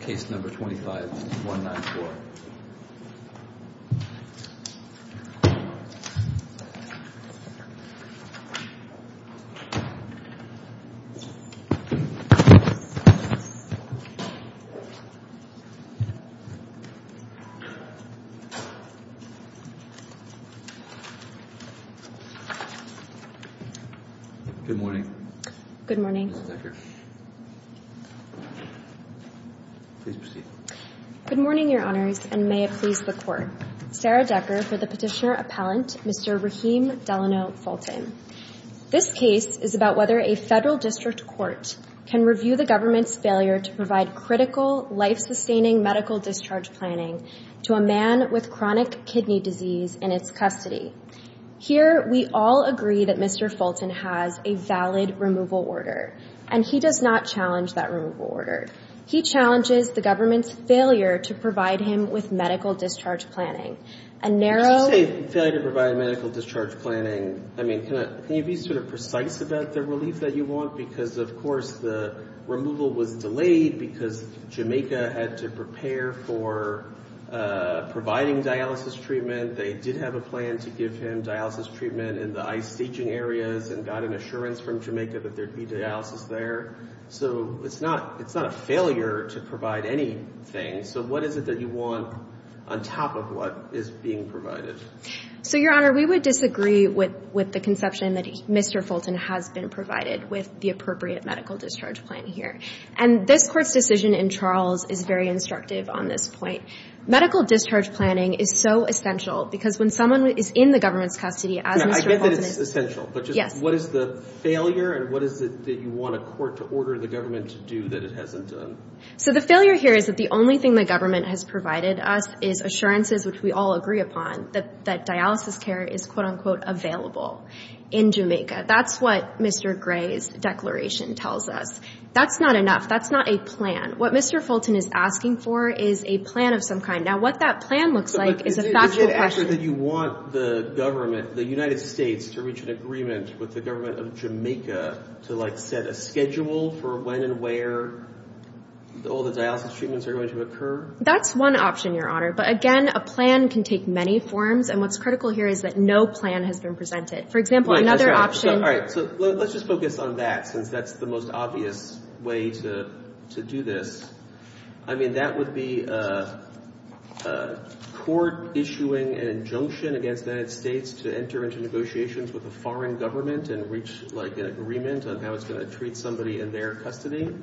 case number 25194. Good morning. Good morning. Ms. Decker. Please proceed. Good morning, Your Honors, and may it please the Court. Sarah Decker for the petitioner appellant, Mr. Rahim Delano Fulton. This case is about whether a federal district court can review the government's failure to provide critical, life-sustaining medical discharge planning to a man with chronic kidney disease in its custody. Here, we all agree that Mr. Fulton has a valid removal order. And he does not challenge that removal order. He challenges the government's failure to provide him with medical discharge planning. A narrow- When you say failure to provide medical discharge planning, I mean, can you be sort of precise about the relief that you want? Because, of course, the removal was delayed because Jamaica had to prepare for providing dialysis treatment. They did have a plan to give him dialysis treatment in the ice-staging areas and got an assurance from Jamaica that there'd be dialysis there. So it's not a failure to provide anything. So what is it that you want on top of what is being provided? So, Your Honor, we would disagree with the conception that Mr. Fulton has been provided with the appropriate medical discharge plan here. And this Court's decision in Charles is very instructive on this point. Medical discharge planning is so essential because when someone is in the government's custody, as Mr. Fulton is- No, I get that it's essential, but just what is the failure and what is it that you want a court to order the government to do that it hasn't done? So the failure here is that the only thing the government has provided us is assurances, which we all agree upon, that dialysis care is, quote-unquote, available in Jamaica. That's what Mr. Gray's declaration tells us. That's not enough. That's not a plan. What Mr. Fulton is asking for is a plan of some kind. Now, what that plan looks like is a factual question. Is it actually that you want the government, the United States, to reach an agreement with the government of Jamaica to, like, set a schedule for when and where all the dialysis treatments are going to occur? That's one option, Your Honor. But again, a plan can take many forms, and what's critical here is that no plan has been presented. For example, another option- All right, so let's just focus on that since that's the most obvious way to do this. I mean, that would be a court issuing an injunction against the United States to enter into negotiations with a foreign government and reach, like, an agreement on how it's going to treat somebody in their custody?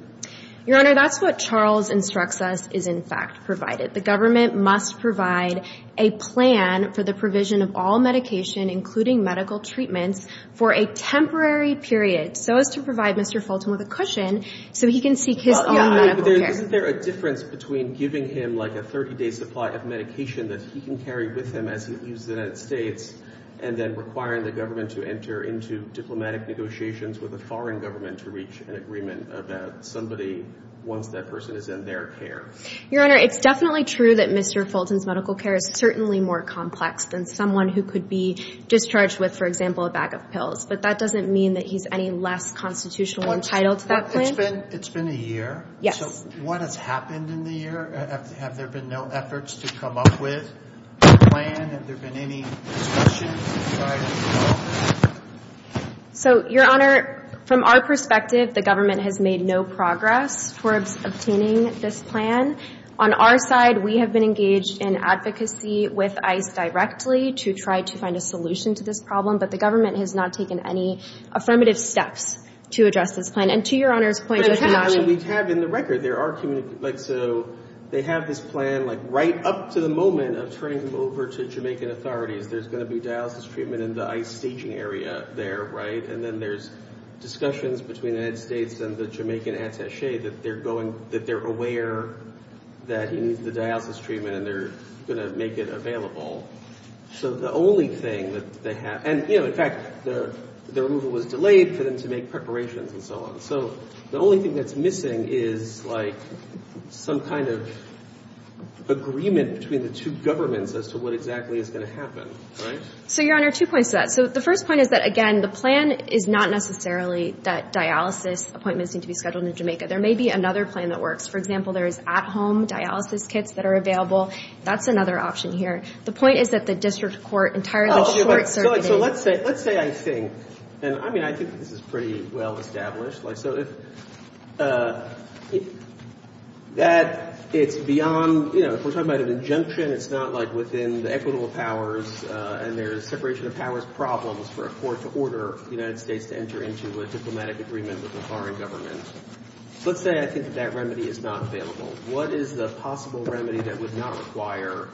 Your Honor, that's what Charles instructs us is, in fact, provided. The government must provide a plan for the provision of all medication, including medical treatments, for a temporary period so as to provide Mr. Fulton with a cushion so he can seek his own medical care. Isn't there a difference between giving him, like, a 30-day supply of medication that he can carry with him as he leaves the United States and then requiring the government to enter into diplomatic negotiations with a foreign government to reach an agreement about somebody once that person is in their care? Your Honor, it's definitely true that Mr. Fulton's medical care is certainly more complex than someone who could be discharged with, for example, a bag of pills, but that doesn't mean that he's any less constitutionally entitled to that plan. It's been a year. Yes. So what has happened in the year? Have there been no efforts to come up with a plan? Have there been any discussions inside of the office? So, Your Honor, from our perspective, the government has made no progress towards obtaining this plan. On our side, we have been engaged in advocacy with ICE directly to try to find a solution to this problem, but the government has not taken any affirmative steps to address this plan. And to Your Honor's point, there has not been- But it happens that we have in the record, there are communi- Like, so, they have this plan, like, right up to the moment of turning him over to Jamaican authorities. There's gonna be dialysis treatment in the ICE staging area there, right? And then there's discussions between the United States and the Jamaican attache that they're aware that he needs the dialysis treatment and they're gonna make it available. So the only thing that they have, and, you know, in fact, the removal was delayed for them to make preparations and so on. So the only thing that's missing is, like, some kind of agreement between the two governments as to what exactly is gonna happen, right? So, Your Honor, two points to that. So the first point is that, again, the plan is not necessarily that dialysis appointments need to be scheduled in Jamaica. There may be another plan that works. For example, there is at-home dialysis kits that are available. That's another option here. The point is that the district court entirely short-circuiting. So let's say I think, and I mean, I think this is pretty well-established. So if that, it's beyond, you know, if we're talking about an injunction, it's not like within the equitable powers and there's separation of powers problems for a court to order the United States to enter into a diplomatic agreement with a foreign government. So let's say I think that remedy is not available. What is the possible remedy that would not require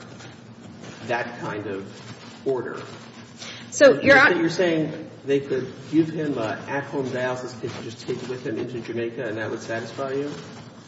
that kind of order? So, Your Honor. You're saying they could give him a at-home dialysis kit just to take with him into Jamaica and that would satisfy him?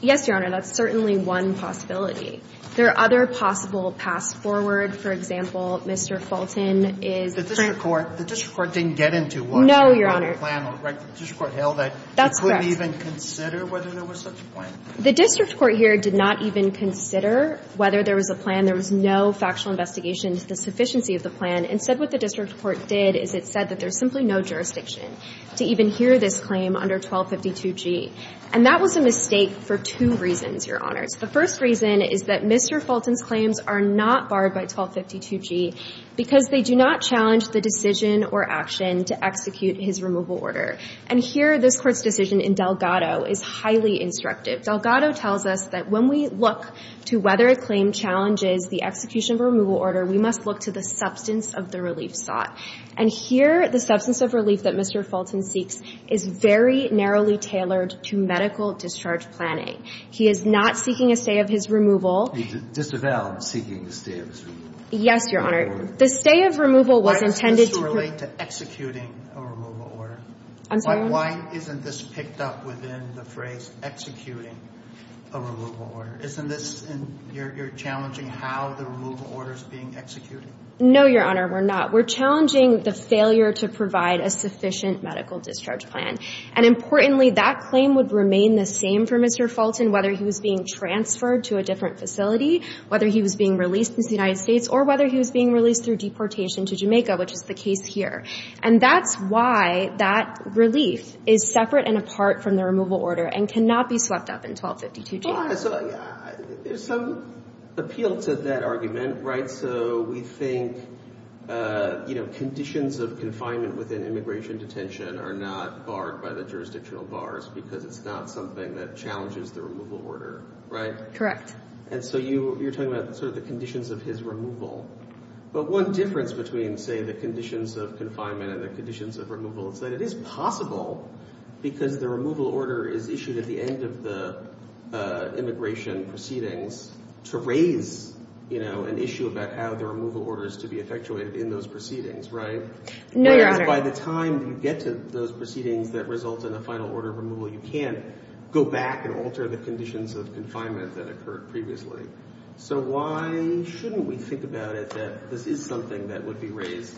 Yes, Your Honor. That's certainly one possibility. There are other possible paths forward. For example, Mr. Fulton is. The district court, the district court didn't get into one. No, Your Honor. The district court held that. That's correct. They couldn't even consider whether there was such a plan. The district court here did not even consider whether there was a plan. There was no factual investigation to the sufficiency of the plan. And said what the district court did is it said that there's simply no jurisdiction to even hear this claim under 1252G. And that was a mistake for two reasons, Your Honor. The first reason is that Mr. Fulton's claims are not barred by 1252G because they do not challenge the decision or action to execute his removal order. And here, this court's decision in Delgado is highly instructive. Delgado tells us that when we look to whether a claim challenges the execution of a removal order, we must look to the substance of the relief sought. And here, the substance of relief that Mr. Fulton seeks is very narrowly tailored to medical discharge planning. He is not seeking a stay of his removal. He's disavowed seeking a stay of his removal. Yes, Your Honor. The stay of removal was intended to. Why doesn't this relate to executing a removal order? I'm sorry? Why isn't this picked up within the phrase executing a removal order? You're challenging how the removal order is being executed? No, Your Honor, we're not. We're challenging the failure to provide a sufficient medical discharge plan. And importantly, that claim would remain the same for Mr. Fulton, whether he was being transferred to a different facility, whether he was being released into the United States, or whether he was being released through deportation to Jamaica, which is the case here. And that's why that relief is separate and apart from the removal order and cannot be swept up in 1252G. Your Honor, there's some appeal to that argument, right? So we think conditions of confinement within immigration detention are not barred by the jurisdictional bars because it's not something that challenges the removal order, right? Correct. And so you're talking about the conditions of his removal. But one difference between, say, the conditions of confinement and the conditions of removal is that it is possible because the removal order is issued at the end of the immigration proceedings to raise an issue about how the removal order is to be effectuated in those proceedings, right? No, Your Honor. By the time you get to those proceedings that result in a final order of removal, you can't go back and alter the conditions of confinement that occurred previously. So why shouldn't we think about it that this is something that would be raised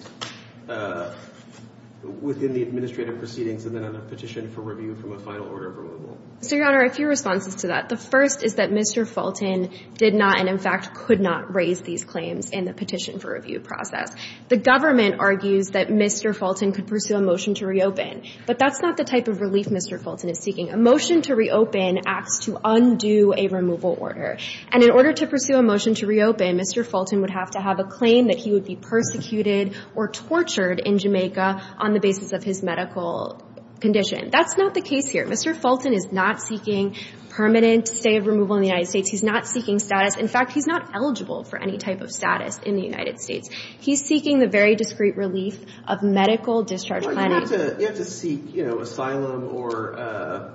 within the administrative proceedings and then on a petition for review from a final order of removal? So, Your Honor, a few responses to that. The first is that Mr. Fulton did not and, in fact, could not raise these claims in the petition for review process. The government argues that Mr. Fulton could pursue a motion to reopen. But that's not the type of relief Mr. Fulton is seeking. A motion to reopen acts to undo a removal order. And in order to pursue a motion to reopen, Mr. Fulton would have to have a claim that he would be persecuted or tortured in Jamaica on the basis of his medical condition. That's not the case here. Mr. Fulton is not seeking permanent stay of removal in the United States. He's not seeking status. In fact, he's not eligible for any type of status in the United States. He's seeking the very discrete relief of medical discharge planning. You have to seek asylum or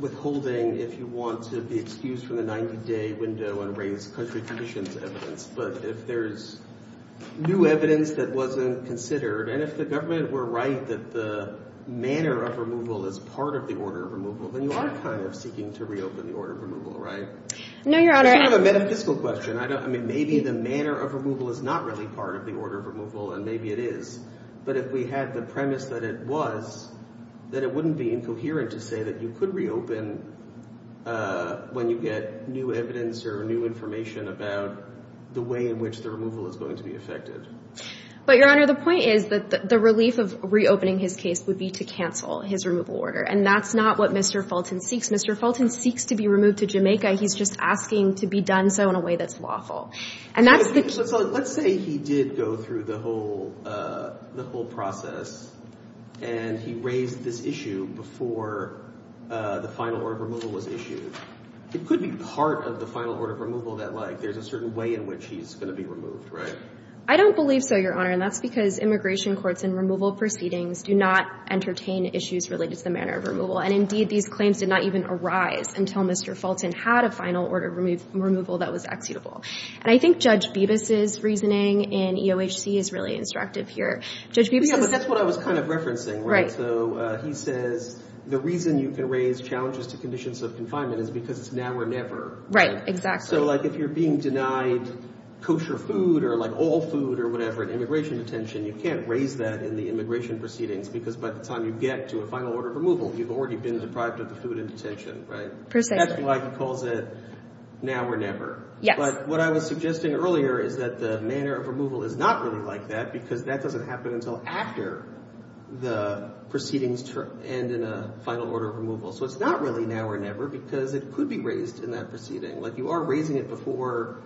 withholding if you want to be excused from the 90-day window and raise country conditions evidence. But if there's new evidence that wasn't considered, and if the government were right that the manner of removal is part of the order of removal, then you are kind of seeking to reopen the order of removal, right? No, Your Honor. It's kind of a metaphysical question. Maybe the manner of removal is not really part of the order of removal, and maybe it is. But if we had the premise that it was, then it wouldn't be incoherent to say that you could reopen when you get new evidence or new information about the way in which the removal is going to be affected. But Your Honor, the point is that the relief of reopening his case would be to cancel his removal order. And that's not what Mr. Fulton seeks. Mr. Fulton seeks to be removed to Jamaica. He's just asking to be done so in a way that's lawful. And that's the- Let's say he did go through the whole process, and he raised this issue before the final order of removal was issued. It could be part of the final order of removal that there's a certain way in which he's going to be removed, right? I don't believe so, Your Honor. And that's because immigration courts and removal proceedings do not entertain issues related to the manner of removal. And indeed, these claims did not even arise until Mr. Fulton had a final order of removal that was exeutable. And I think Judge Bibas's reasoning in EOHC is really instructive here. Judge Bibas is- Yeah, but that's what I was kind of referencing, right? So he says the reason you can raise challenges to conditions of confinement is because it's now or never. Right, exactly. So if you're being denied kosher food, or all food, or whatever, in immigration detention, you can't raise that in the immigration proceedings. Because by the time you get to a final order of removal, you've already been deprived of the food in detention, right? Precisely. That's why he calls it now or never. Yes. But what I was suggesting earlier is that the manner of removal is not really like that, because that doesn't happen until after the proceedings to end in a final order of removal. So it's not really now or never, because it could be raised in that proceeding. You are raising it before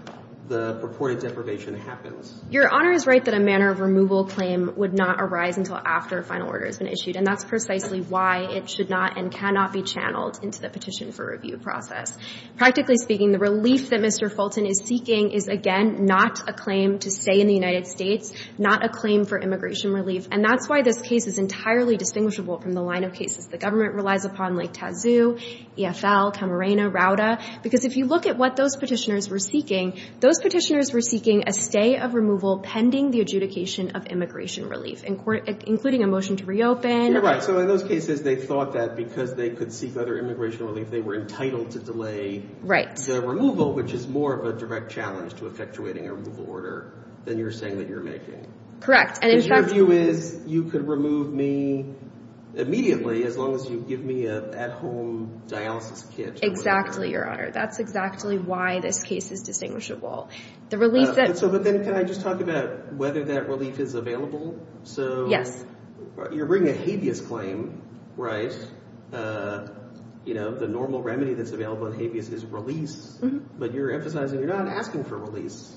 the purported deprivation happens. Your Honor is right that a manner of removal claim would not arise until after a final order has been issued. And that's precisely why it should not and cannot be channeled into the petition for review process. Practically speaking, the relief that Mr. Fulton is seeking is, again, not a claim to stay in the United States, not a claim for immigration relief. And that's why this case is entirely distinguishable from the line of cases the government relies upon, like Tazoo, EFL, Camarena, Rauda. Because if you look at what those petitioners were seeking, those petitioners were seeking a stay of removal pending the adjudication of immigration relief, including a motion to reopen. You're right. So in those cases, they thought that because they could seek other immigration relief, they were entitled to delay the removal, which is more of a direct challenge to effectuating a removal order than you're saying that you're making. Correct. And in fact, Your view is you could remove me immediately as long as you give me an at-home dialysis kit. Exactly, Your Honor. That's exactly why this case is distinguishable. The relief that So but then, can I just talk about whether that relief is available? So you're bringing a habeas claim, right? The normal remedy that's available in habeas is release. But you're emphasizing you're not asking for release,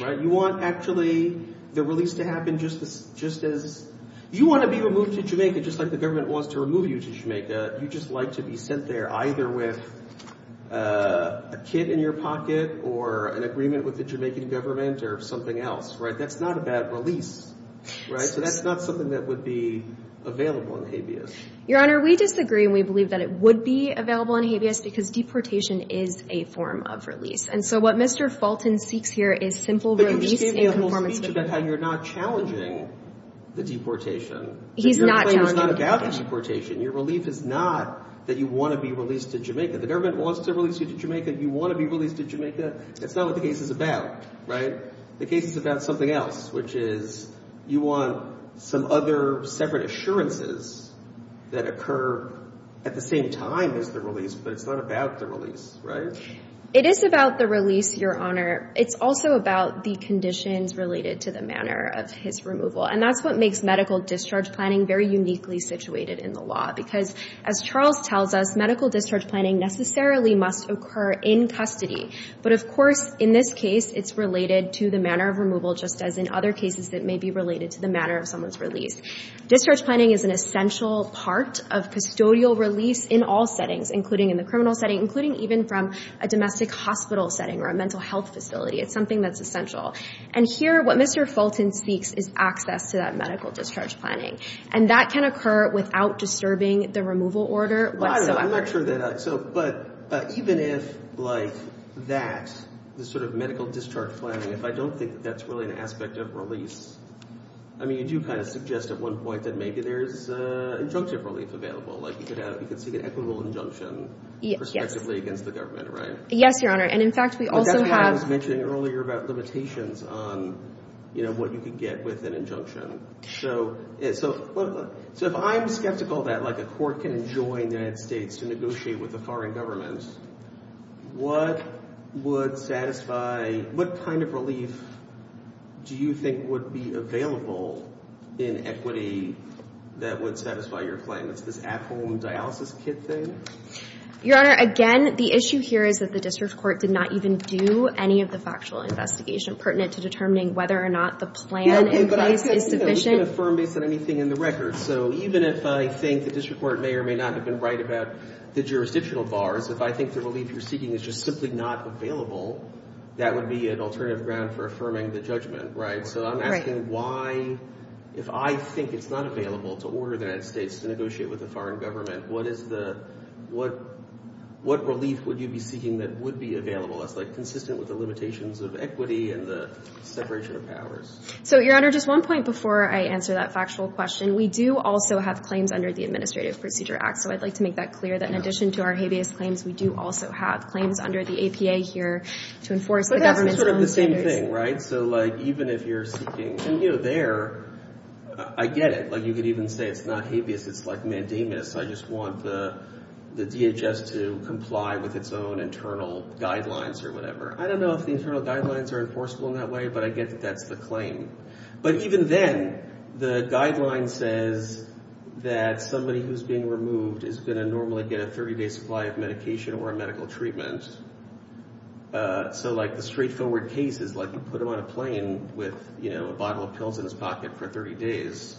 right? You want, actually, the release to happen just as you want to be removed to Jamaica, just like the government wants to remove you to Jamaica. You just like to be sent there either with a kit in your pocket, or an agreement with the Jamaican government, or something else, right? That's not a bad release, right? So that's not something that would be available in habeas. Your Honor, we disagree. And we believe that it would be available in habeas because deportation is a form of release. And so what Mr. Fulton seeks here is simple release in conformance with that. about how you're not challenging the deportation. He's not challenging the deportation. Your relief is not that you want to be released to Jamaica. The government wants to release you to Jamaica. You want to be released to Jamaica. That's not what the case is about, right? The case is about something else, which is you want some other separate assurances that occur at the same time as the release, but it's not about the release, right? It is about the release, Your Honor. It's also about the conditions related to the manner of his removal. And that's what makes medical discharge planning very uniquely situated in the law. Because as Charles tells us, medical discharge planning necessarily must occur in custody. But of course, in this case, it's related to the manner of removal, just as in other cases that may be related to the manner of someone's release. Discharge planning is an essential part of custodial release in all settings, including in the criminal setting, including even from a domestic hospital setting or a mental health facility. It's something that's essential. And here, what Mr. Fulton speaks is access to that medical discharge planning. And that can occur without disturbing the removal order whatsoever. I'm not sure that. But even if that sort of medical discharge planning, if I don't think that's really an aspect of release, I mean, you do kind of suggest at one point that maybe there's injunctive relief available. Like, you could see an equitable injunction perspectively against the government, right? Yes, Your Honor. And in fact, we also have. I was mentioning earlier about limitations on what you could get with an injunction. So if I'm skeptical that a court can enjoin the United States to negotiate with the foreign governments, what kind of relief do you think would be available in equity that would satisfy your claim? It's this at-home dialysis kit thing? Your Honor, again, the issue here is that the district court did not even do any of the factual investigation pertinent to determining whether or not the plan in place is sufficient. You can affirm based on anything in the record. So even if I think the district court may or may not have been right about the jurisdictional bars, if I think the relief you're seeking is just simply not available, that would be an alternative ground for affirming the judgment, right? So I'm asking why, if I think it's not available to order the United States to negotiate with the foreign government, what relief would you be seeking that would be available that's consistent with the limitations of equity and the separation of powers? So, Your Honor, just one point before I answer that factual question. We do also have claims under the Administrative Procedure Act. So I'd like to make that clear that in addition to our habeas claims, we do also have claims under the APA here to enforce the government's own standards. But that's sort of the same thing, right? So even if you're seeking, and there, I get it. You could even say it's not habeas, it's like mandamus. I just want the DHS to comply with its own internal guidelines or whatever. I don't know if the internal guidelines are enforceable in that way, but I don't think that's a claim. But even then, the guideline says that somebody who's being removed is going to normally get a 30-day supply of medication or a medical treatment. So the straightforward case is you put them on a plane with a bottle of pills in his pocket for 30 days.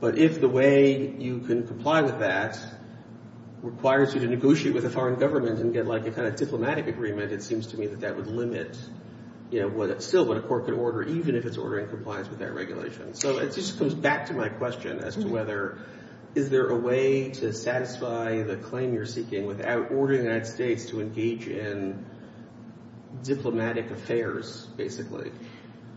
But if the way you can comply with that requires you to negotiate with a foreign government and get a kind of diplomatic agreement, it seems to me that that would limit still what a court could order, even if it's ordering compliance with that regulation. So it just goes back to my question as to whether is there a way to satisfy the claim you're seeking without ordering the United States to engage in diplomatic affairs, basically.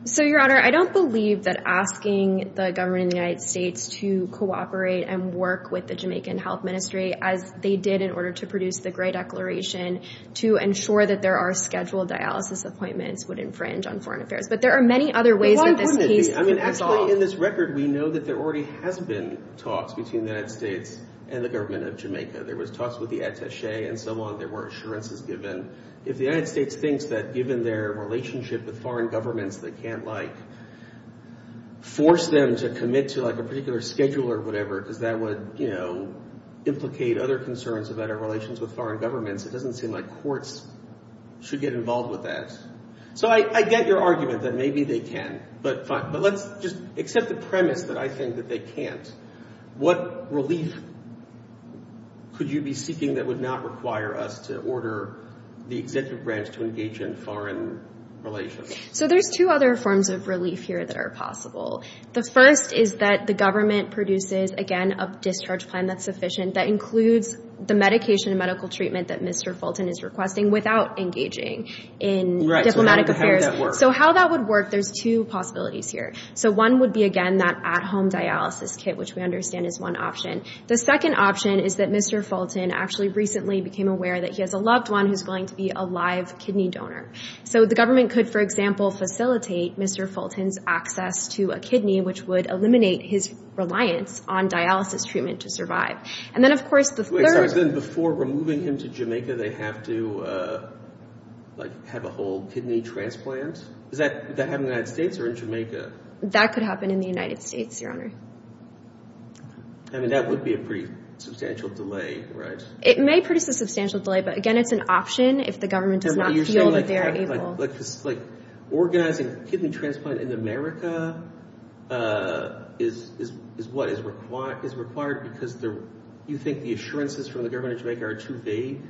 So, Your Honor, I don't believe that asking the government in the United States to cooperate and work with the Jamaican Health Ministry as they did in order to produce the Gray Declaration to ensure that there are scheduled dialysis appointments would infringe on foreign affairs. But there are many other ways that this case could be solved. I mean, actually, in this record, we know that there already has been talks between the United States and the government of Jamaica. There was talks with the attache and so on. There were assurances given. If the United States thinks that, given their relationship with foreign governments, they can't, like, force them to commit to, like, a particular schedule or whatever, because that would implicate other concerns about our relations with foreign governments, it doesn't seem like courts should get involved with that. So I get your argument that maybe they can, but fine. But let's just accept the premise that I think that they can't. What relief could you be seeking that would not require us to order the executive branch to engage in foreign relations? So there's two other forms of relief here that are possible. The first is that the government produces, again, a discharge plan that's sufficient that includes the medication and medical treatment that Mr. Fulton is requesting without engaging in diplomatic affairs. So how that would work, there's two possibilities here. So one would be, again, that at-home dialysis kit, which we understand is one option. The second option is that Mr. Fulton actually recently became aware that he has a loved one who's going to be a live kidney donor. So the government could, for example, facilitate Mr. Fulton's access to a kidney, which would eliminate his reliance on dialysis treatment to survive. And then, of course, the third. Before removing him to Jamaica, they have to have a whole kidney transplant? Does that happen in the United States or in Jamaica? That could happen in the United States, Your Honor. I mean, that would be a pretty substantial delay, right? It may produce a substantial delay. But again, it's an option if the government does not feel that they are able. Organizing kidney transplant in America is what is required because you think the assurances from the government of Jamaica are too vague?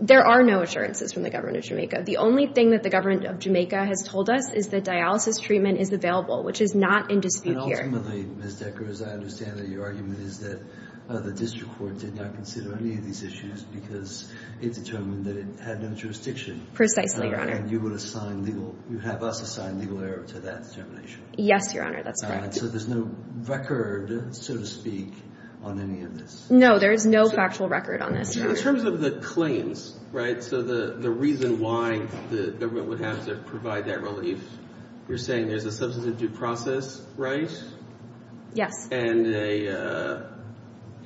There are no assurances from the government of Jamaica. The only thing that the government of Jamaica has told us is that dialysis treatment is available, which is not in dispute here. And ultimately, Ms. Decker, as I understand it, your argument is that the district court did not consider any of these issues because it determined that it had no jurisdiction. Precisely, Your Honor. And you would assign legal, you would have us assign legal error to that determination. Yes, Your Honor, that's correct. So there's no record, so to speak, on any of this? No, there is no factual record on this, Your Honor. In terms of the claims, right? So the reason why the government would have to provide that relief, you're saying there's a substantive due process right? Yes. And the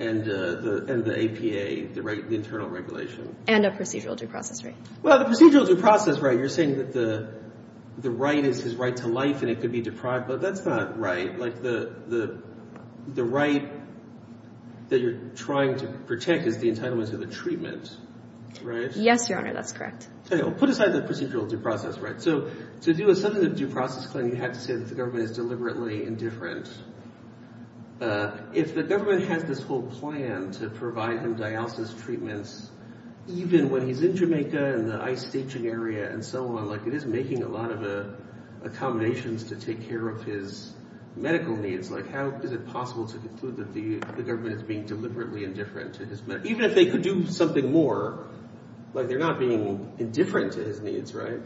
APA, the internal regulation. And a procedural due process right. Well, the procedural due process right, you're saying that the right is his right to life and it could be deprived. But that's not right. Like the right that you're trying to protect is the entitlement to the treatment, right? Yes, Your Honor, that's correct. OK, well put aside the procedural due process right. So to do a substantive due process claim, you have to say that the government is deliberately indifferent. If the government has this whole plan to provide him dialysis treatments, even when he's in Jamaica and the ice staging area and so on, like it is making a lot of accommodations to take care of his medical needs. Like how is it possible to conclude that the government is being deliberately indifferent to his meds? Even if they could do something more, like they're not being indifferent to his needs, right?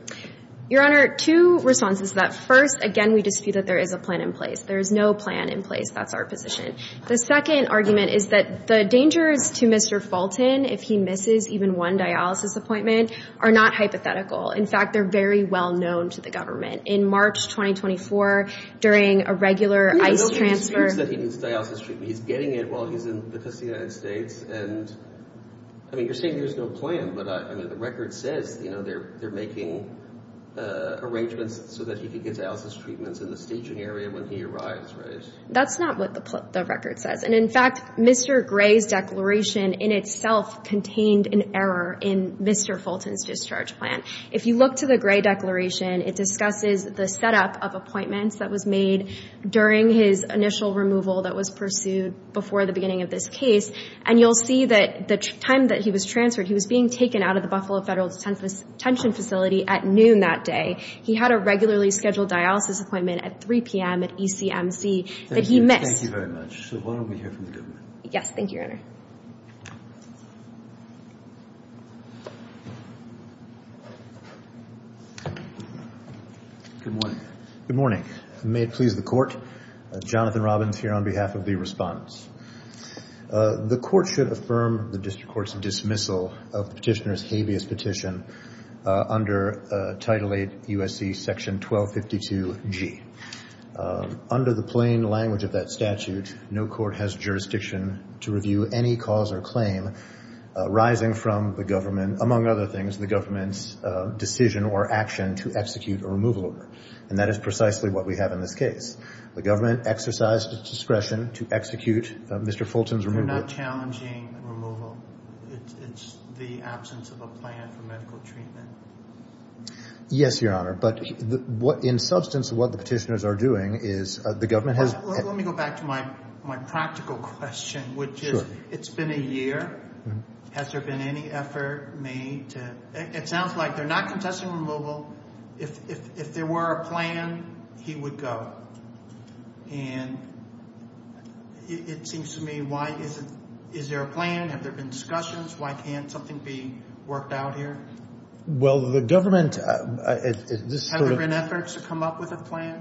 Your Honor, two responses to that. First, again, we dispute that there is a plan in place. There is no plan in place. That's our position. The second argument is that the dangers to Mr. Fulton if he misses even one dialysis appointment are not hypothetical. In fact, they're very well known to the government. In March 2024, during a regular ice transfer... He said he needs dialysis treatment. He's getting it while he's in the United States. And I mean, you're saying there's no plan, but the record says they're making arrangements so that he could get dialysis treatments in the staging area when he arrives, right? That's not what the record says. And in fact, Mr. Gray's declaration in itself contained an error in Mr. Fulton's discharge plan. If you look to the Gray declaration, it discusses the setup of appointments that was made during his initial removal that was pursued before the beginning of this case. And you'll see that the time that he was transferred, he was being taken out of the Buffalo Federal Detention Facility at noon that day. He had a regularly scheduled dialysis appointment at 3 p.m. at ECMC that he missed. Thank you very much. So why don't we hear from the government? Yes. Thank you, Your Honor. Good morning. Good morning. May it please the court, Jonathan Robbins here on behalf of the respondents. The court should affirm the district court's dismissal of the petitioner's habeas petition under Title VIII U.S.C. Section 1252G. Under the plain language of that statute, no court has jurisdiction to review any cause or claim arising from the government, among other things, the government's decision or action to execute a removal order. And that is precisely what we have in this case. The government exercised its discretion to execute Mr. Fulton's removal. They're not challenging removal. It's the absence of a plan for medical treatment. Yes, Your Honor. But in substance, what the petitioners are doing is the government has- Let me go back to my practical question, which is it's been a year. Has there been any effort made to- it sounds like they're not contesting removal. If there were a plan, he would go. And it seems to me, why isn't- is there a plan? Have there been discussions? Why can't something be worked out here? Well, the government- Have there been efforts to come up with a plan?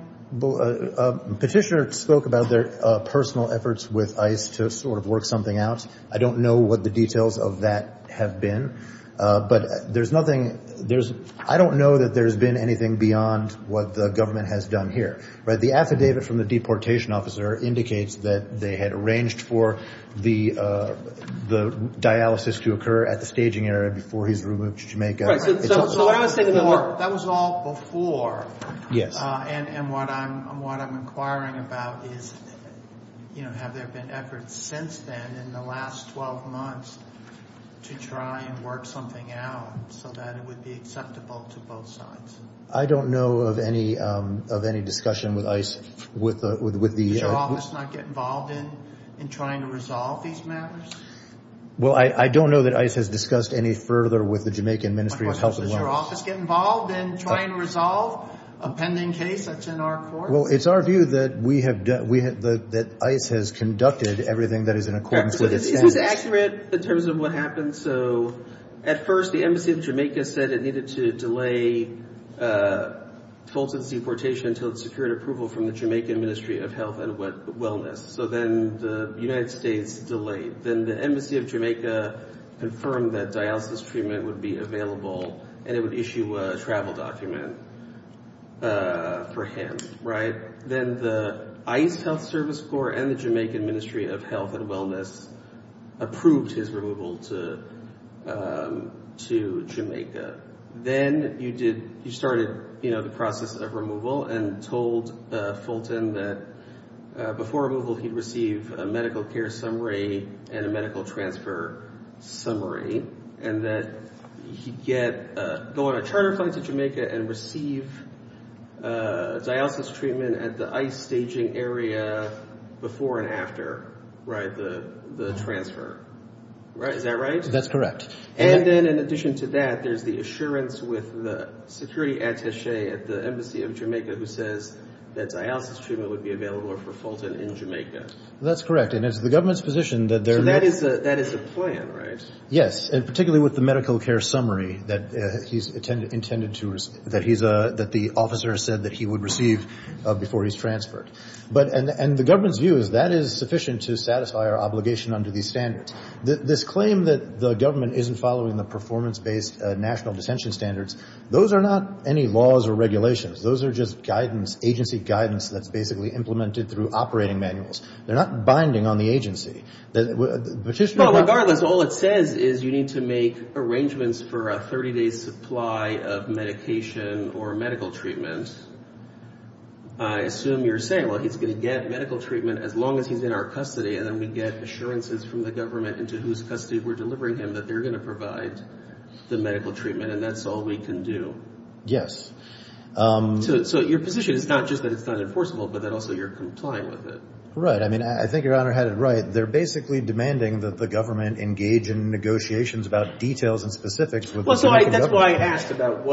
Petitioner spoke about their personal efforts with ICE to sort of work something out. I don't know what the details of that have been. But there's nothing- I don't know that there's been anything beyond what the government has done here. The affidavit from the deportation officer indicates that they had arranged for the dialysis to occur at the staging area before he's removed to Jamaica. Right, so I was thinking- That was all before. Yes. And what I'm inquiring about is, have there been efforts since then, in the last 12 months, to try and work something out so that it would be acceptable to both sides? I don't know of any discussion with ICE with the- Does your office not get involved in trying to resolve these matters? Well, I don't know that ICE has discussed any further with the Jamaican Ministry of Health and Welfare. Does your office get involved in trying to resolve a pending case that's in our courts? Well, it's our view that ICE has conducted everything that is in accordance with its standards. Is this accurate, in terms of what happened? So at first, the Embassy of Jamaica said it needed to delay Fulton's deportation until it secured approval from the Jamaican Ministry of Health and Wellness. So then the United States delayed. Then the Embassy of Jamaica confirmed that dialysis treatment would be available, and it would issue a travel document for him. Then the ICE Health Service Corps and the Jamaican Ministry of Health and Wellness approved his removal to Jamaica. Then you started the process of removal and told Fulton that before removal, he'd receive a medical care summary and a medical transfer summary, and that he'd go on a charter flight to Jamaica and receive dialysis treatment at the ICE staging area before and after the transfer. Is that right? That's correct. And then in addition to that, there's the assurance with the security attache at the Embassy of Jamaica who says that dialysis treatment would be available for Fulton in Jamaica. That's correct. And it's the government's position that they're not. That is the plan, right? Yes, and particularly with the medical care summary that he's intended to receive, that the officer said that he would receive before he's transferred. And the government's view is that is sufficient to satisfy our obligation under these standards. This claim that the government isn't following the performance-based national dissension standards, those are not any laws or regulations. Those are just guidance, agency guidance that's basically implemented through operating manuals. They're not binding on the agency. But regardless, all it says is you need to make arrangements for a 30-day supply of medication or medical treatment. I assume you're saying, well, he's going to get medical treatment as long as he's in our custody, and then we get assurances from the government into whose custody we're delivering him that they're going to provide the medical treatment, and that's all we can do. Yes. So your position is not just that it's not enforceable, but that also you're complying with it. Right. I mean, I think Your Honor had it right. They're basically demanding that the government engage in negotiations about details and specifics with the Dominican government. Well, that's why I asked about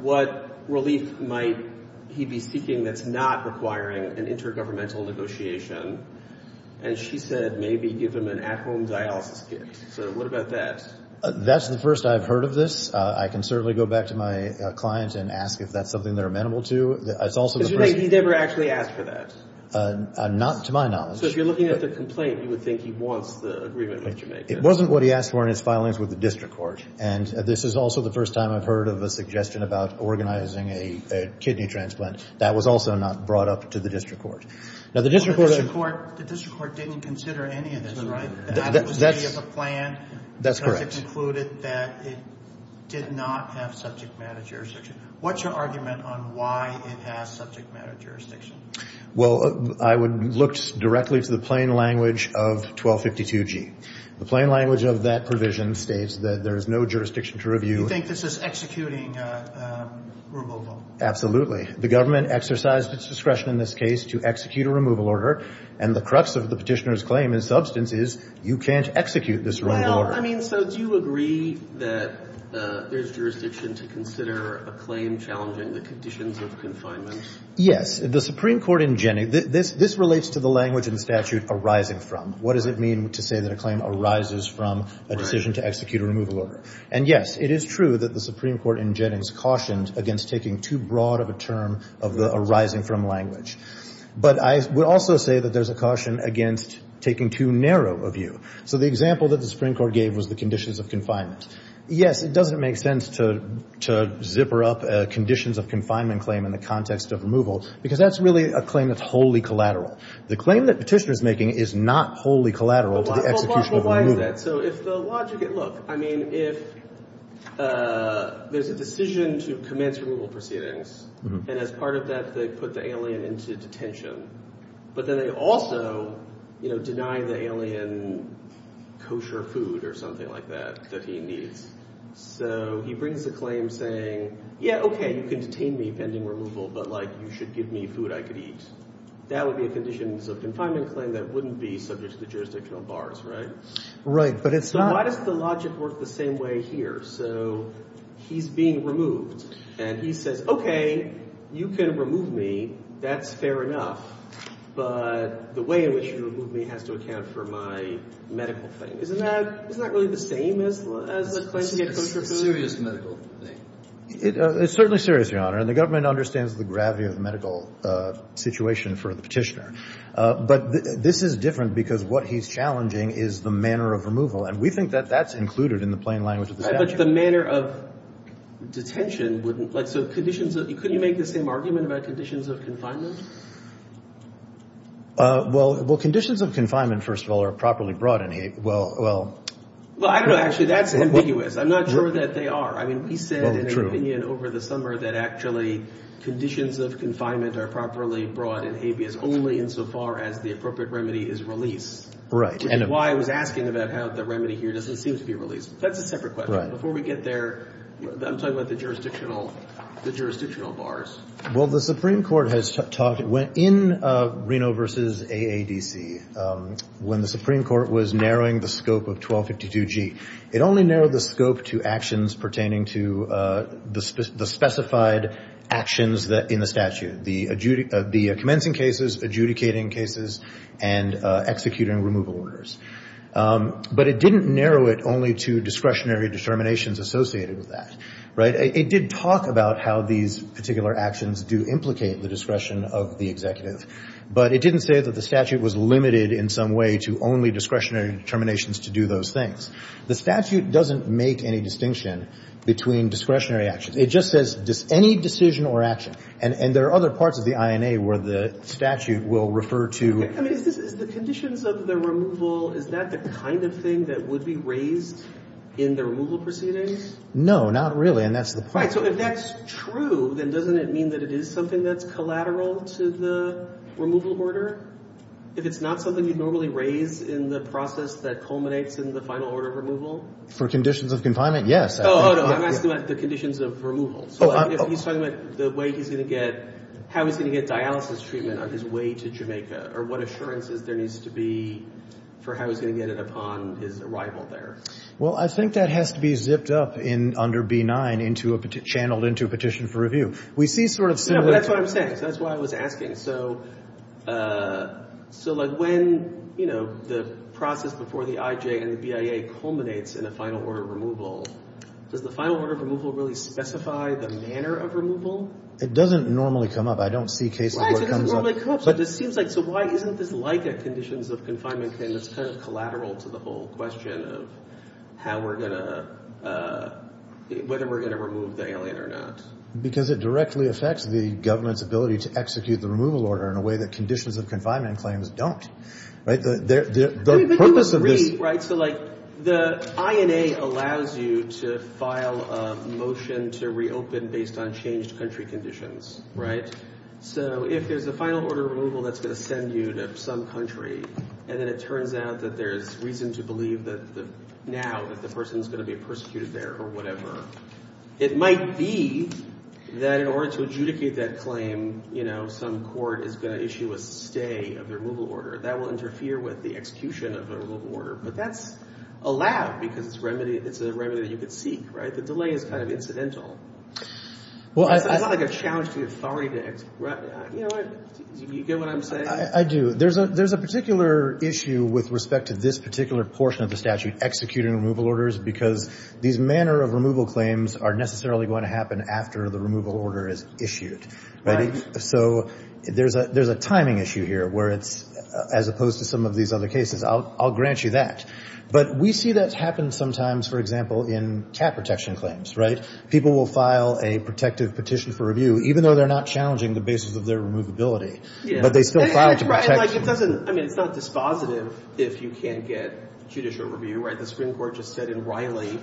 what relief might he be seeking that's not requiring an intergovernmental negotiation. And she said maybe give him an at-home dialysis kit. So what about that? That's the first I've heard of this. I can certainly go back to my clients and ask if that's something they're amenable to. That's also the first. Because you think he never actually asked for that? Not to my knowledge. So if you're looking at the complaint, you would think he wants the agreement with Jamaica. It wasn't what he asked for in his filings with the district court. And this is also the first time I've heard of a suggestion about organizing a kidney transplant. That was also not brought up to the district court. Now, the district court didn't consider any of this, right? That was a plan. That's correct. Because it concluded that it did not have subject matter jurisdiction. What's your argument on why it has subject matter jurisdiction? Well, I would look directly to the plain language of 1252G. The plain language of that provision states that there is no jurisdiction to review. You think this is executing removal? Absolutely. The government exercised its discretion in this case to execute a removal order. And the crux of the petitioner's claim in substance is you can't execute this removal order. Well, I mean, so do you agree that there's jurisdiction to consider a claim challenging the conditions of confinement? Yes. The Supreme Court in Jennings, this relates to the language and statute arising from. What does it mean to say that a claim arises from a decision to execute a removal order? And yes, it is true that the Supreme Court in Jennings cautioned against taking too broad of a term of the arising from language. But I would also say that there's a caution against taking too narrow a view. So the example that the Supreme Court gave was the conditions of confinement. Yes, it doesn't make sense to zipper up conditions of confinement claim in the context of removal because that's really a claim that's wholly collateral. The claim that petitioner's making is not wholly collateral to the execution of a removal. But why is that? So if the logic, look, I mean, if there's a decision to commence removal proceedings, and as part of that, they put the alien into detention. But then they also deny the alien kosher food or something like that that he needs. So he brings a claim saying, yeah, OK, you can detain me pending removal. But you should give me food I could eat. That would be a conditions of confinement claim that wouldn't be subject to the jurisdiction of bars, right? Right, but it's not. So why does the logic work the same way here? So he's being removed. And he says, OK, you can remove me. That's fair enough. But the way in which you remove me has to account for my medical thing. Isn't that really the same as a claim to get kosher food? It's a serious medical thing. It's certainly serious, Your Honor. And the government understands the gravity of the medical situation for the petitioner. But this is different, because what he's challenging is the manner of removal. And we think that that's included in the plain language of the statute. But the manner of detention wouldn't, like, so conditions of, couldn't you make the same argument about conditions of confinement? Well, conditions of confinement, first of all, are properly broadened. Well, well. Well, I don't know. Actually, that's ambiguous. I'm not sure that they are. I mean, we said in our opinion over the summer that actually conditions of confinement are properly broad and ambiguous only insofar as the appropriate remedy is released. Right. Which is why I was asking about how the remedy here doesn't seem to be released. That's a separate question. Before we get there, I'm talking about the jurisdictional bars. Well, the Supreme Court has talked, in Reno versus AADC, when the Supreme Court was narrowing the scope of 1252G, it only narrowed the scope to actions pertaining to the specified actions in the statute, the commencing cases, adjudicating cases, and executing removal orders. But it didn't narrow it only to discretionary determinations associated with that. Right. It did talk about how these particular actions do implicate the discretion of the executive. But it didn't say that the statute was limited in some way to only discretionary determinations to do those things. The statute doesn't make any distinction between discretionary actions. It just says any decision or action. And there are other parts of the INA where the statute will refer to. I mean, is the conditions of the removal, is that the kind of thing that would be raised in the removal proceedings? No, not really. And that's the point. So if that's true, then doesn't it mean that it is something that's collateral to the removal order? If it's not something you'd normally raise in the process that culminates in the final order of removal? For conditions of confinement, yes. Oh, I'm asking about the conditions of removal. So if he's talking about the way he's going to get, how he's going to get dialysis treatment on his way to Jamaica, or what assurances there needs to be for how he's going to get it upon his arrival there. Well, I think that has to be zipped up under B-9, channeled into a petition for review. We see sort of similar. That's what I'm saying. That's why I was asking. So when the process before the IJ and the BIA culminates in a final order of removal, does the final order of removal really specify the manner of removal? It doesn't normally come up. I don't see cases where it comes up. Right, it doesn't normally come up. But it seems like, so why isn't this like a conditions of confinement claim that's kind of collateral to the whole question of how we're going to, whether we're going to remove the alien or not? Because it directly affects the government's ability to execute the removal order in a way that conditions of confinement claims don't. The purpose of this. But you agree, right? So like, the INA allows you to file a motion to reopen based on changed country conditions, right? So if there's a final order of removal that's going to send you to some country, and then it turns out that there is reason to believe that now that the person is going to be persecuted there or whatever, it might be that in order to adjudicate that claim, some court is going to issue a stay of the removal order. That will interfere with the execution of a removal order. But that's allowed, because it's a remedy that you could seek, right? The delay is kind of incidental. It's not like a challenge to the authority to, you know what? Do you get what I'm saying? I do. There's a particular issue with respect to this particular portion of the statute executing removal orders, because these manner of removal claims are necessarily going to happen after the removal order is issued, right? So there's a timing issue here, where it's, as opposed to some of these other cases. I'll grant you that. But we see that happen sometimes, for example, in cat protection claims, right? People will file a protective petition for review, even though they're not challenging the basis of their removability. But they still file to protect. I mean, it's not dispositive if you can't get judicial review, right? The Supreme Court just said in Riley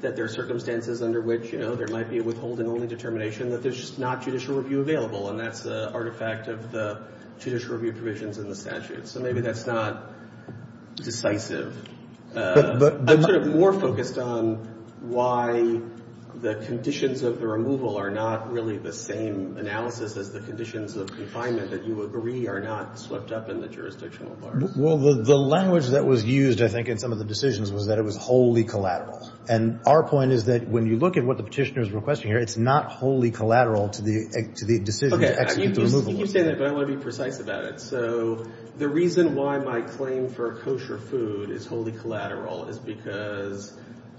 that there are circumstances under which there might be a withholding only determination that there's not judicial review available. And that's the artifact of the judicial review provisions in the statute. So maybe that's not decisive. I'm sort of more focused on why the conditions of the removal are not really the same analysis as the conditions of confinement that you agree are not swept up in the jurisdictional bar. Well, the language that was used, I think, in some of the decisions was that it was wholly collateral. And our point is that when you look at what the petitioner is saying, it's not wholly collateral to the decision to execute the removal. OK, you keep saying that, but I want to be precise about it. So the reason why my claim for kosher food is wholly collateral is because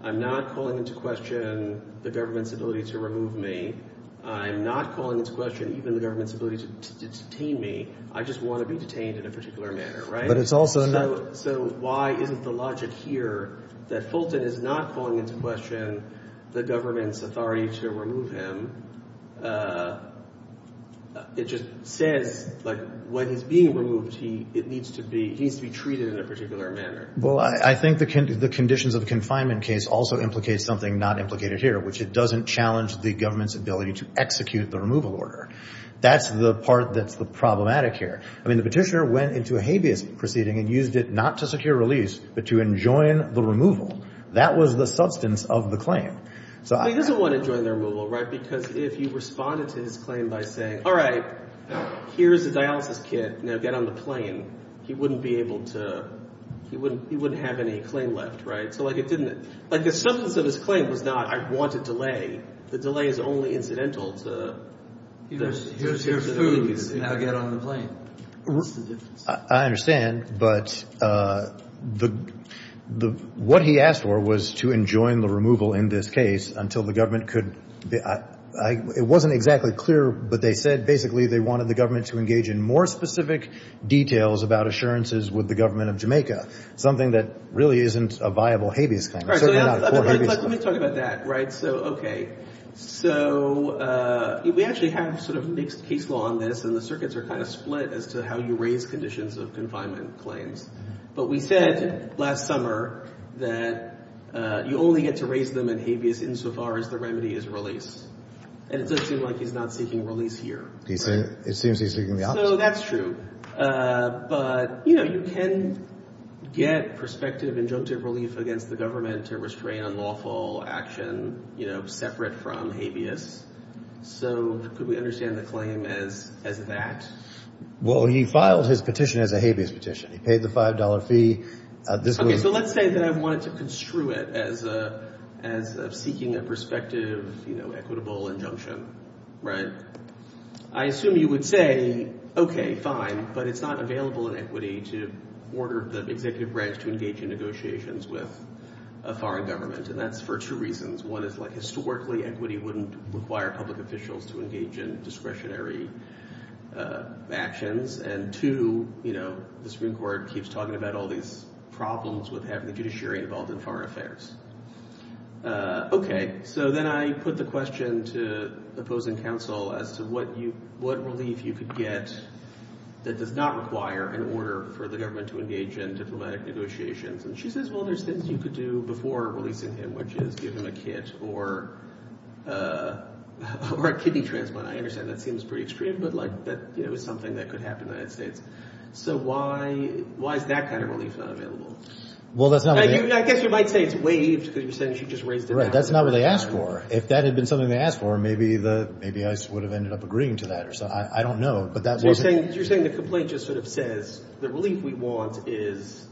I'm not calling into question the government's ability to remove me. I'm not calling into question even the government's ability to detain me. I just want to be detained in a particular manner, right? So why isn't the logic here that Fulton is not calling into question the government's authority to remove him? It just says, when he's being removed, it needs to be treated in a particular manner. Well, I think the conditions of confinement case also implicates something not implicated here, which it doesn't challenge the government's ability to execute the removal order. That's the part that's the problematic here. I mean, the petitioner went into a habeas proceeding and used it not to secure release, but to enjoin the removal. That was the substance of the claim. He doesn't want to enjoin the removal, right? Because if you responded to his claim by saying, all right, here's the dialysis kit. Now get on the plane. He wouldn't be able to, he wouldn't have any claim left, right? So like it didn't, like the substance of his claim was not, I want a delay. The delay is only incidental to the incident. Here's food, now get on the plane. I understand, but what he asked for was to enjoin the removal in this case until the government could, it wasn't exactly clear, but they said basically they wanted the government to engage in more specific details about assurances with the government of Jamaica. Something that really isn't a viable habeas claim. It's certainly not a core habeas claim. All right, so let me talk about that, right? So, okay, so we actually have sort of mixed case law on this and the circuits are kind of split as to how you raise conditions of confinement claims. But we said last summer that you only get to raise them in habeas insofar as the remedy is release. And it does seem like he's not seeking release here. It seems he's seeking the opposite. So that's true, but you know, you can get prospective injunctive relief against the government to restrain unlawful action, you know, separate from habeas. So could we understand the claim as that? Well, he filed his petition as a habeas petition. He paid the $5 fee. Okay, so let's say that I wanted to construe it as seeking a prospective, you know, equitable injunction, right? I assume you would say, okay, fine, but it's not available in equity to order the executive branch to engage in negotiations with a foreign government. And that's for two reasons. One is like historically equity wouldn't require public officials to engage in discretionary actions. And two, you know, the Supreme Court keeps talking about all these problems with having the judiciary involved in foreign affairs. Okay, so then I put the question to opposing counsel as to what relief you could get that does not require an order for the government to engage in diplomatic negotiations. And she says, well, there's things you could do before releasing him, which is give him a kit or a kidney transplant. I understand that seems pretty extreme, but like that, you know, it was something that could happen in the United States. So why is that kind of relief not available? Well, that's not. I guess you might say it's waived because you're saying she just raised it. Right, that's not what they asked for. If that had been something they asked for, maybe I would have ended up agreeing to that or something. I don't know, but that wasn't. You're saying the complaint just sort of says the relief we want is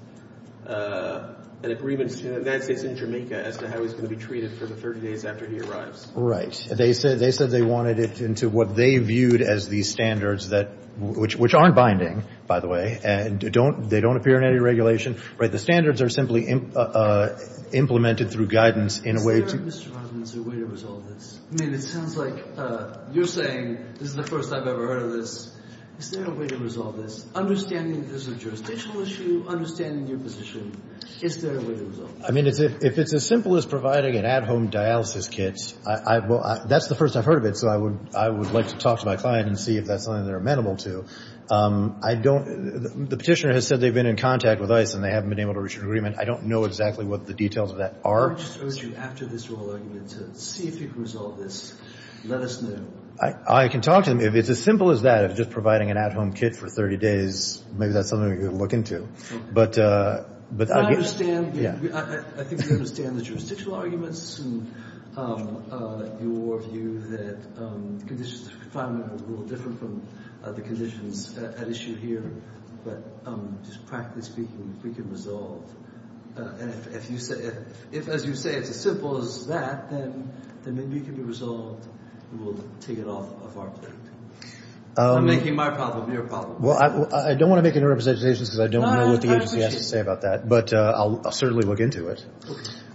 an agreement between the United States and Jamaica as to how he's gonna be treated for the 30 days after he arrives. Right, they said they wanted it into what they viewed as these standards that, which aren't binding, by the way, and they don't appear in any regulation. Right, the standards are simply implemented through guidance in a way to- Is there, Mr. Rosman, a way to resolve this? I mean, it sounds like you're saying, this is the first I've ever heard of this, is there a way to resolve this? Understanding that this is a jurisdictional issue, understanding your position, is there a way to resolve this? I mean, if it's as simple as providing an at-home dialysis kit, well, that's the first I've heard of it, so I would like to talk to my client and see if that's something they're amenable to. I don't, the petitioner has said they've been in contact with ICE and they haven't been able to reach an agreement. I don't know exactly what the details of that are. I would just urge you, after this oral argument, to see if you can resolve this. Let us know. I can talk to them. If it's as simple as that, if it's just providing an at-home kit for 30 days, maybe that's something we could look into. But I would- Well, I understand, I think we understand the jurisdictional arguments and your view that conditions of confinement are a little different from the conditions at issue here. But just practically speaking, if we can resolve, and if, as you say, it's as simple as that, then maybe it can be resolved, and we'll take it off of our plate. I'm making my problem your problem. Well, I don't want to make any representations because I don't know what the agency has to say about that, but I'll certainly look into it.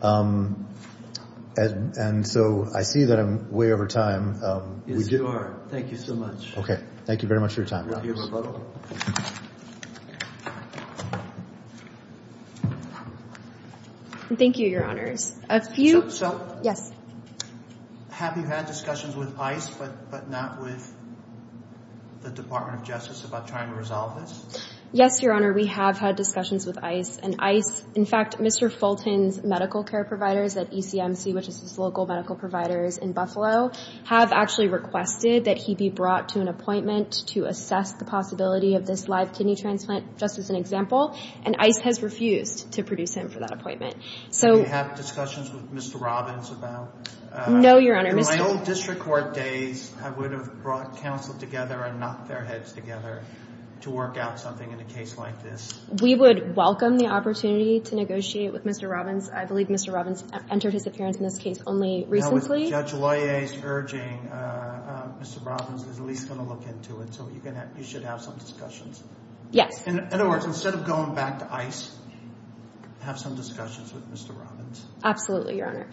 And so I see that I'm way over time. Yes, you are. Thank you so much. Okay. Thank you very much for your time. Thank you for your rebuttal. Thank you, Your Honors. A few- So- Yes. Have you had discussions with ICE, but not with the Department of Justice about trying to resolve this? Yes, Your Honor, we have had discussions with ICE, and ICE, in fact, Mr. Fulton's lawyer, medical care providers at ECMC, which is his local medical providers in Buffalo, have actually requested that he be brought to an appointment to assess the possibility of this live kidney transplant, just as an example, and ICE has refused to produce him for that appointment. So- Do you have discussions with Mr. Robbins about- No, Your Honor. In my old district court days, I would have brought counsel together and knocked their heads together to work out something in a case like this. We would welcome the opportunity to negotiate with Mr. Robbins. I believe Mr. Robbins entered his appearance in this case only recently. Now, with Judge Loyer's urging, Mr. Robbins is at least gonna look into it, so you should have some discussions. Yes. In other words, instead of going back to ICE, have some discussions with Mr. Robbins. Absolutely, Your Honor.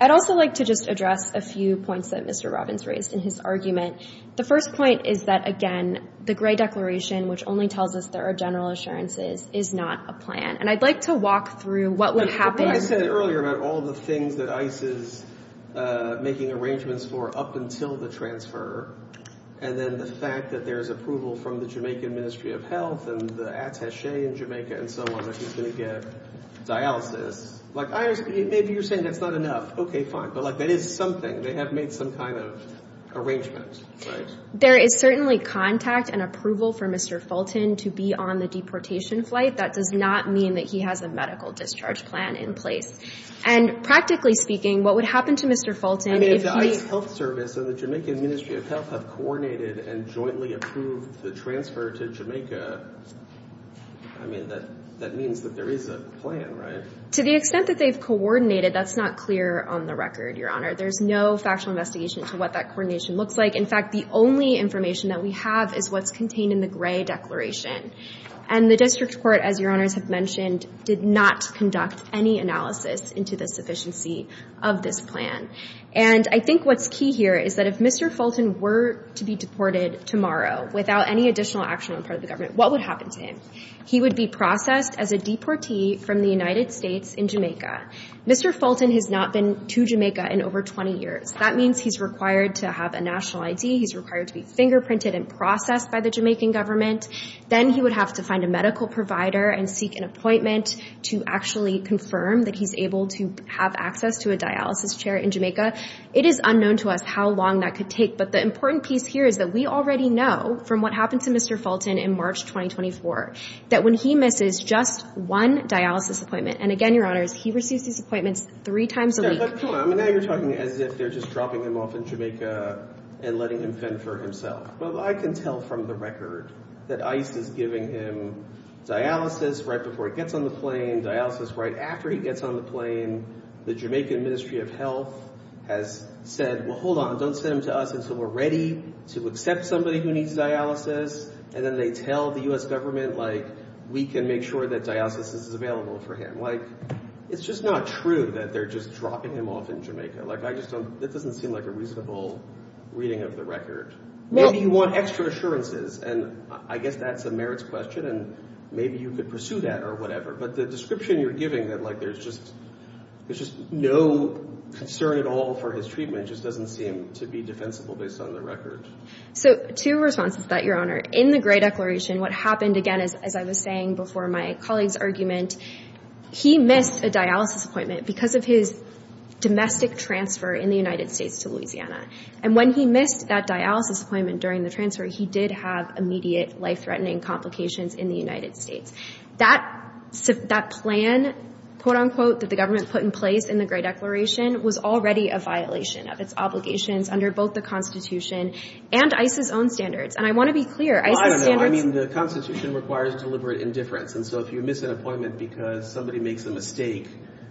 I'd also like to just address a few points that Mr. Robbins raised in his argument. The first point is that, again, the Gray Declaration, which only tells us there are general assurances, is not a plan, and I'd like to walk through what would happen- But what I said earlier about all the things that ICE is making arrangements for up until the transfer, and then the fact that there's approval from the Jamaican Ministry of Health and the attache in Jamaica and so on, that he's gonna get dialysis. Like, maybe you're saying that's not enough. Okay, fine, but that is something. They have made some kind of arrangement, right? There is certainly contact and approval for Mr. Fulton to be on the deportation flight. That does not mean that he has a medical discharge plan in place. And practically speaking, what would happen to Mr. Fulton if he- I mean, if the ICE Health Service and the Jamaican Ministry of Health have coordinated and jointly approved the transfer to Jamaica, I mean, that means that there is a plan, right? To the extent that they've coordinated, that's not clear on the record, Your Honor. There's no factual investigation to what that coordination looks like. In fact, the only information that we have is what's contained in the Gray Declaration. And the District Court, as Your Honors have mentioned, did not conduct any analysis into the sufficiency of this plan. And I think what's key here is that if Mr. Fulton were to be deported tomorrow without any additional action on part of the government, what would happen to him? He would be processed as a deportee from the United States in Jamaica. Mr. Fulton has not been to Jamaica in over 20 years. That means he's required to have a national ID. He's required to be fingerprinted and processed by the Jamaican government. Then he would have to find a medical provider and seek an appointment to actually confirm that he's able to have access to a dialysis chair in Jamaica. It is unknown to us how long that could take, but the important piece here is that we already know from what happened to Mr. Fulton in March 2024 that when he misses just one dialysis appointment, and again, Your Honors, he receives these appointments three times a week. Yeah, but hold on. I mean, now you're talking as if they're just dropping him off in Jamaica and letting him fend for himself. Well, I can tell from the record that ICE is giving him dialysis right before he gets on the plane, dialysis right after he gets on the plane. The Jamaican Ministry of Health has said, well, hold on, don't send him to us until we're ready to accept somebody who needs dialysis. And then they tell the U.S. government, like, we can make sure that dialysis is available for him. Like, it's just not true that they're just dropping him off in Jamaica. Like, I just don't, that doesn't seem like a reasonable reading of the record. Maybe you want extra assurances, and I guess that's a merits question, and maybe you could pursue that or whatever. But the description you're giving, that, like, there's just no concern at all for his treatment just doesn't seem to be defensible based on the record. So, two responses to that, Your Honor. In the Gray Declaration, what happened, again, as I was saying before my colleague's argument, he missed a dialysis appointment because of his domestic transfer in the United States to Louisiana. And when he missed that dialysis appointment during the transfer, he did have immediate life-threatening complications in the United States. That plan, quote-unquote, that the government put in place in the Gray Declaration was already a violation of its obligations under both the Constitution and ICE's own standards. And I want to be clear, ICE's standards- Well, I don't know. I mean, the Constitution requires deliberate indifference. And so if you miss an appointment because somebody makes a mistake,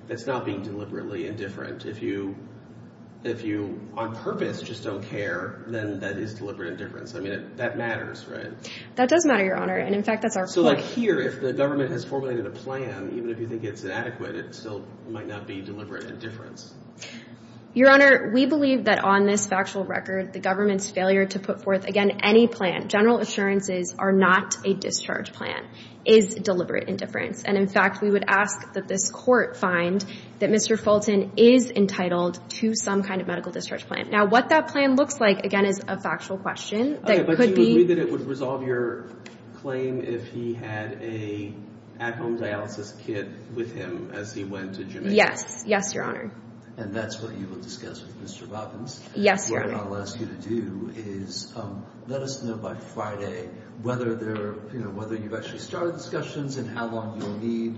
that's not being deliberately indifferent. If you, on purpose, just don't care, then that is deliberate indifference. I mean, that matters, right? That does matter, Your Honor. And in fact, that's our point. So like here, if the government has formulated a plan, even if you think it's inadequate, it still might not be deliberate indifference. Your Honor, we believe that on this factual record, the government's failure to put forth, again, any plan, general assurances are not a discharge plan, is deliberate indifference. And in fact, we would ask that this court find that Mr. Fulton is entitled to some kind of medical discharge plan. Now, what that plan looks like, again, is a factual question that could be- Okay, but you agree that it would resolve your claim if he had a at-home dialysis kit with him as he went to Jamaica? Yes, yes, Your Honor. And that's what you will discuss with Mr. Robbins? Yes, Your Honor. What I'll ask you to do is let us know by Friday whether you've actually started discussions and how long you'll need.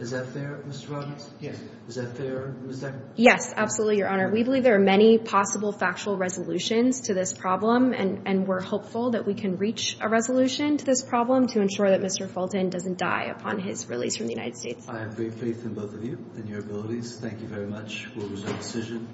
Is that fair, Mr. Robbins? Yes. Is that fair, Ms. Decker? Yes, absolutely, Your Honor. We believe there are many possible factual resolutions to this problem, and we're hopeful that we can reach a resolution to this problem to ensure that Mr. Fulton doesn't die upon his release from the United States. I have great faith in both of you and your abilities. Thank you very much. We'll resolve the decision.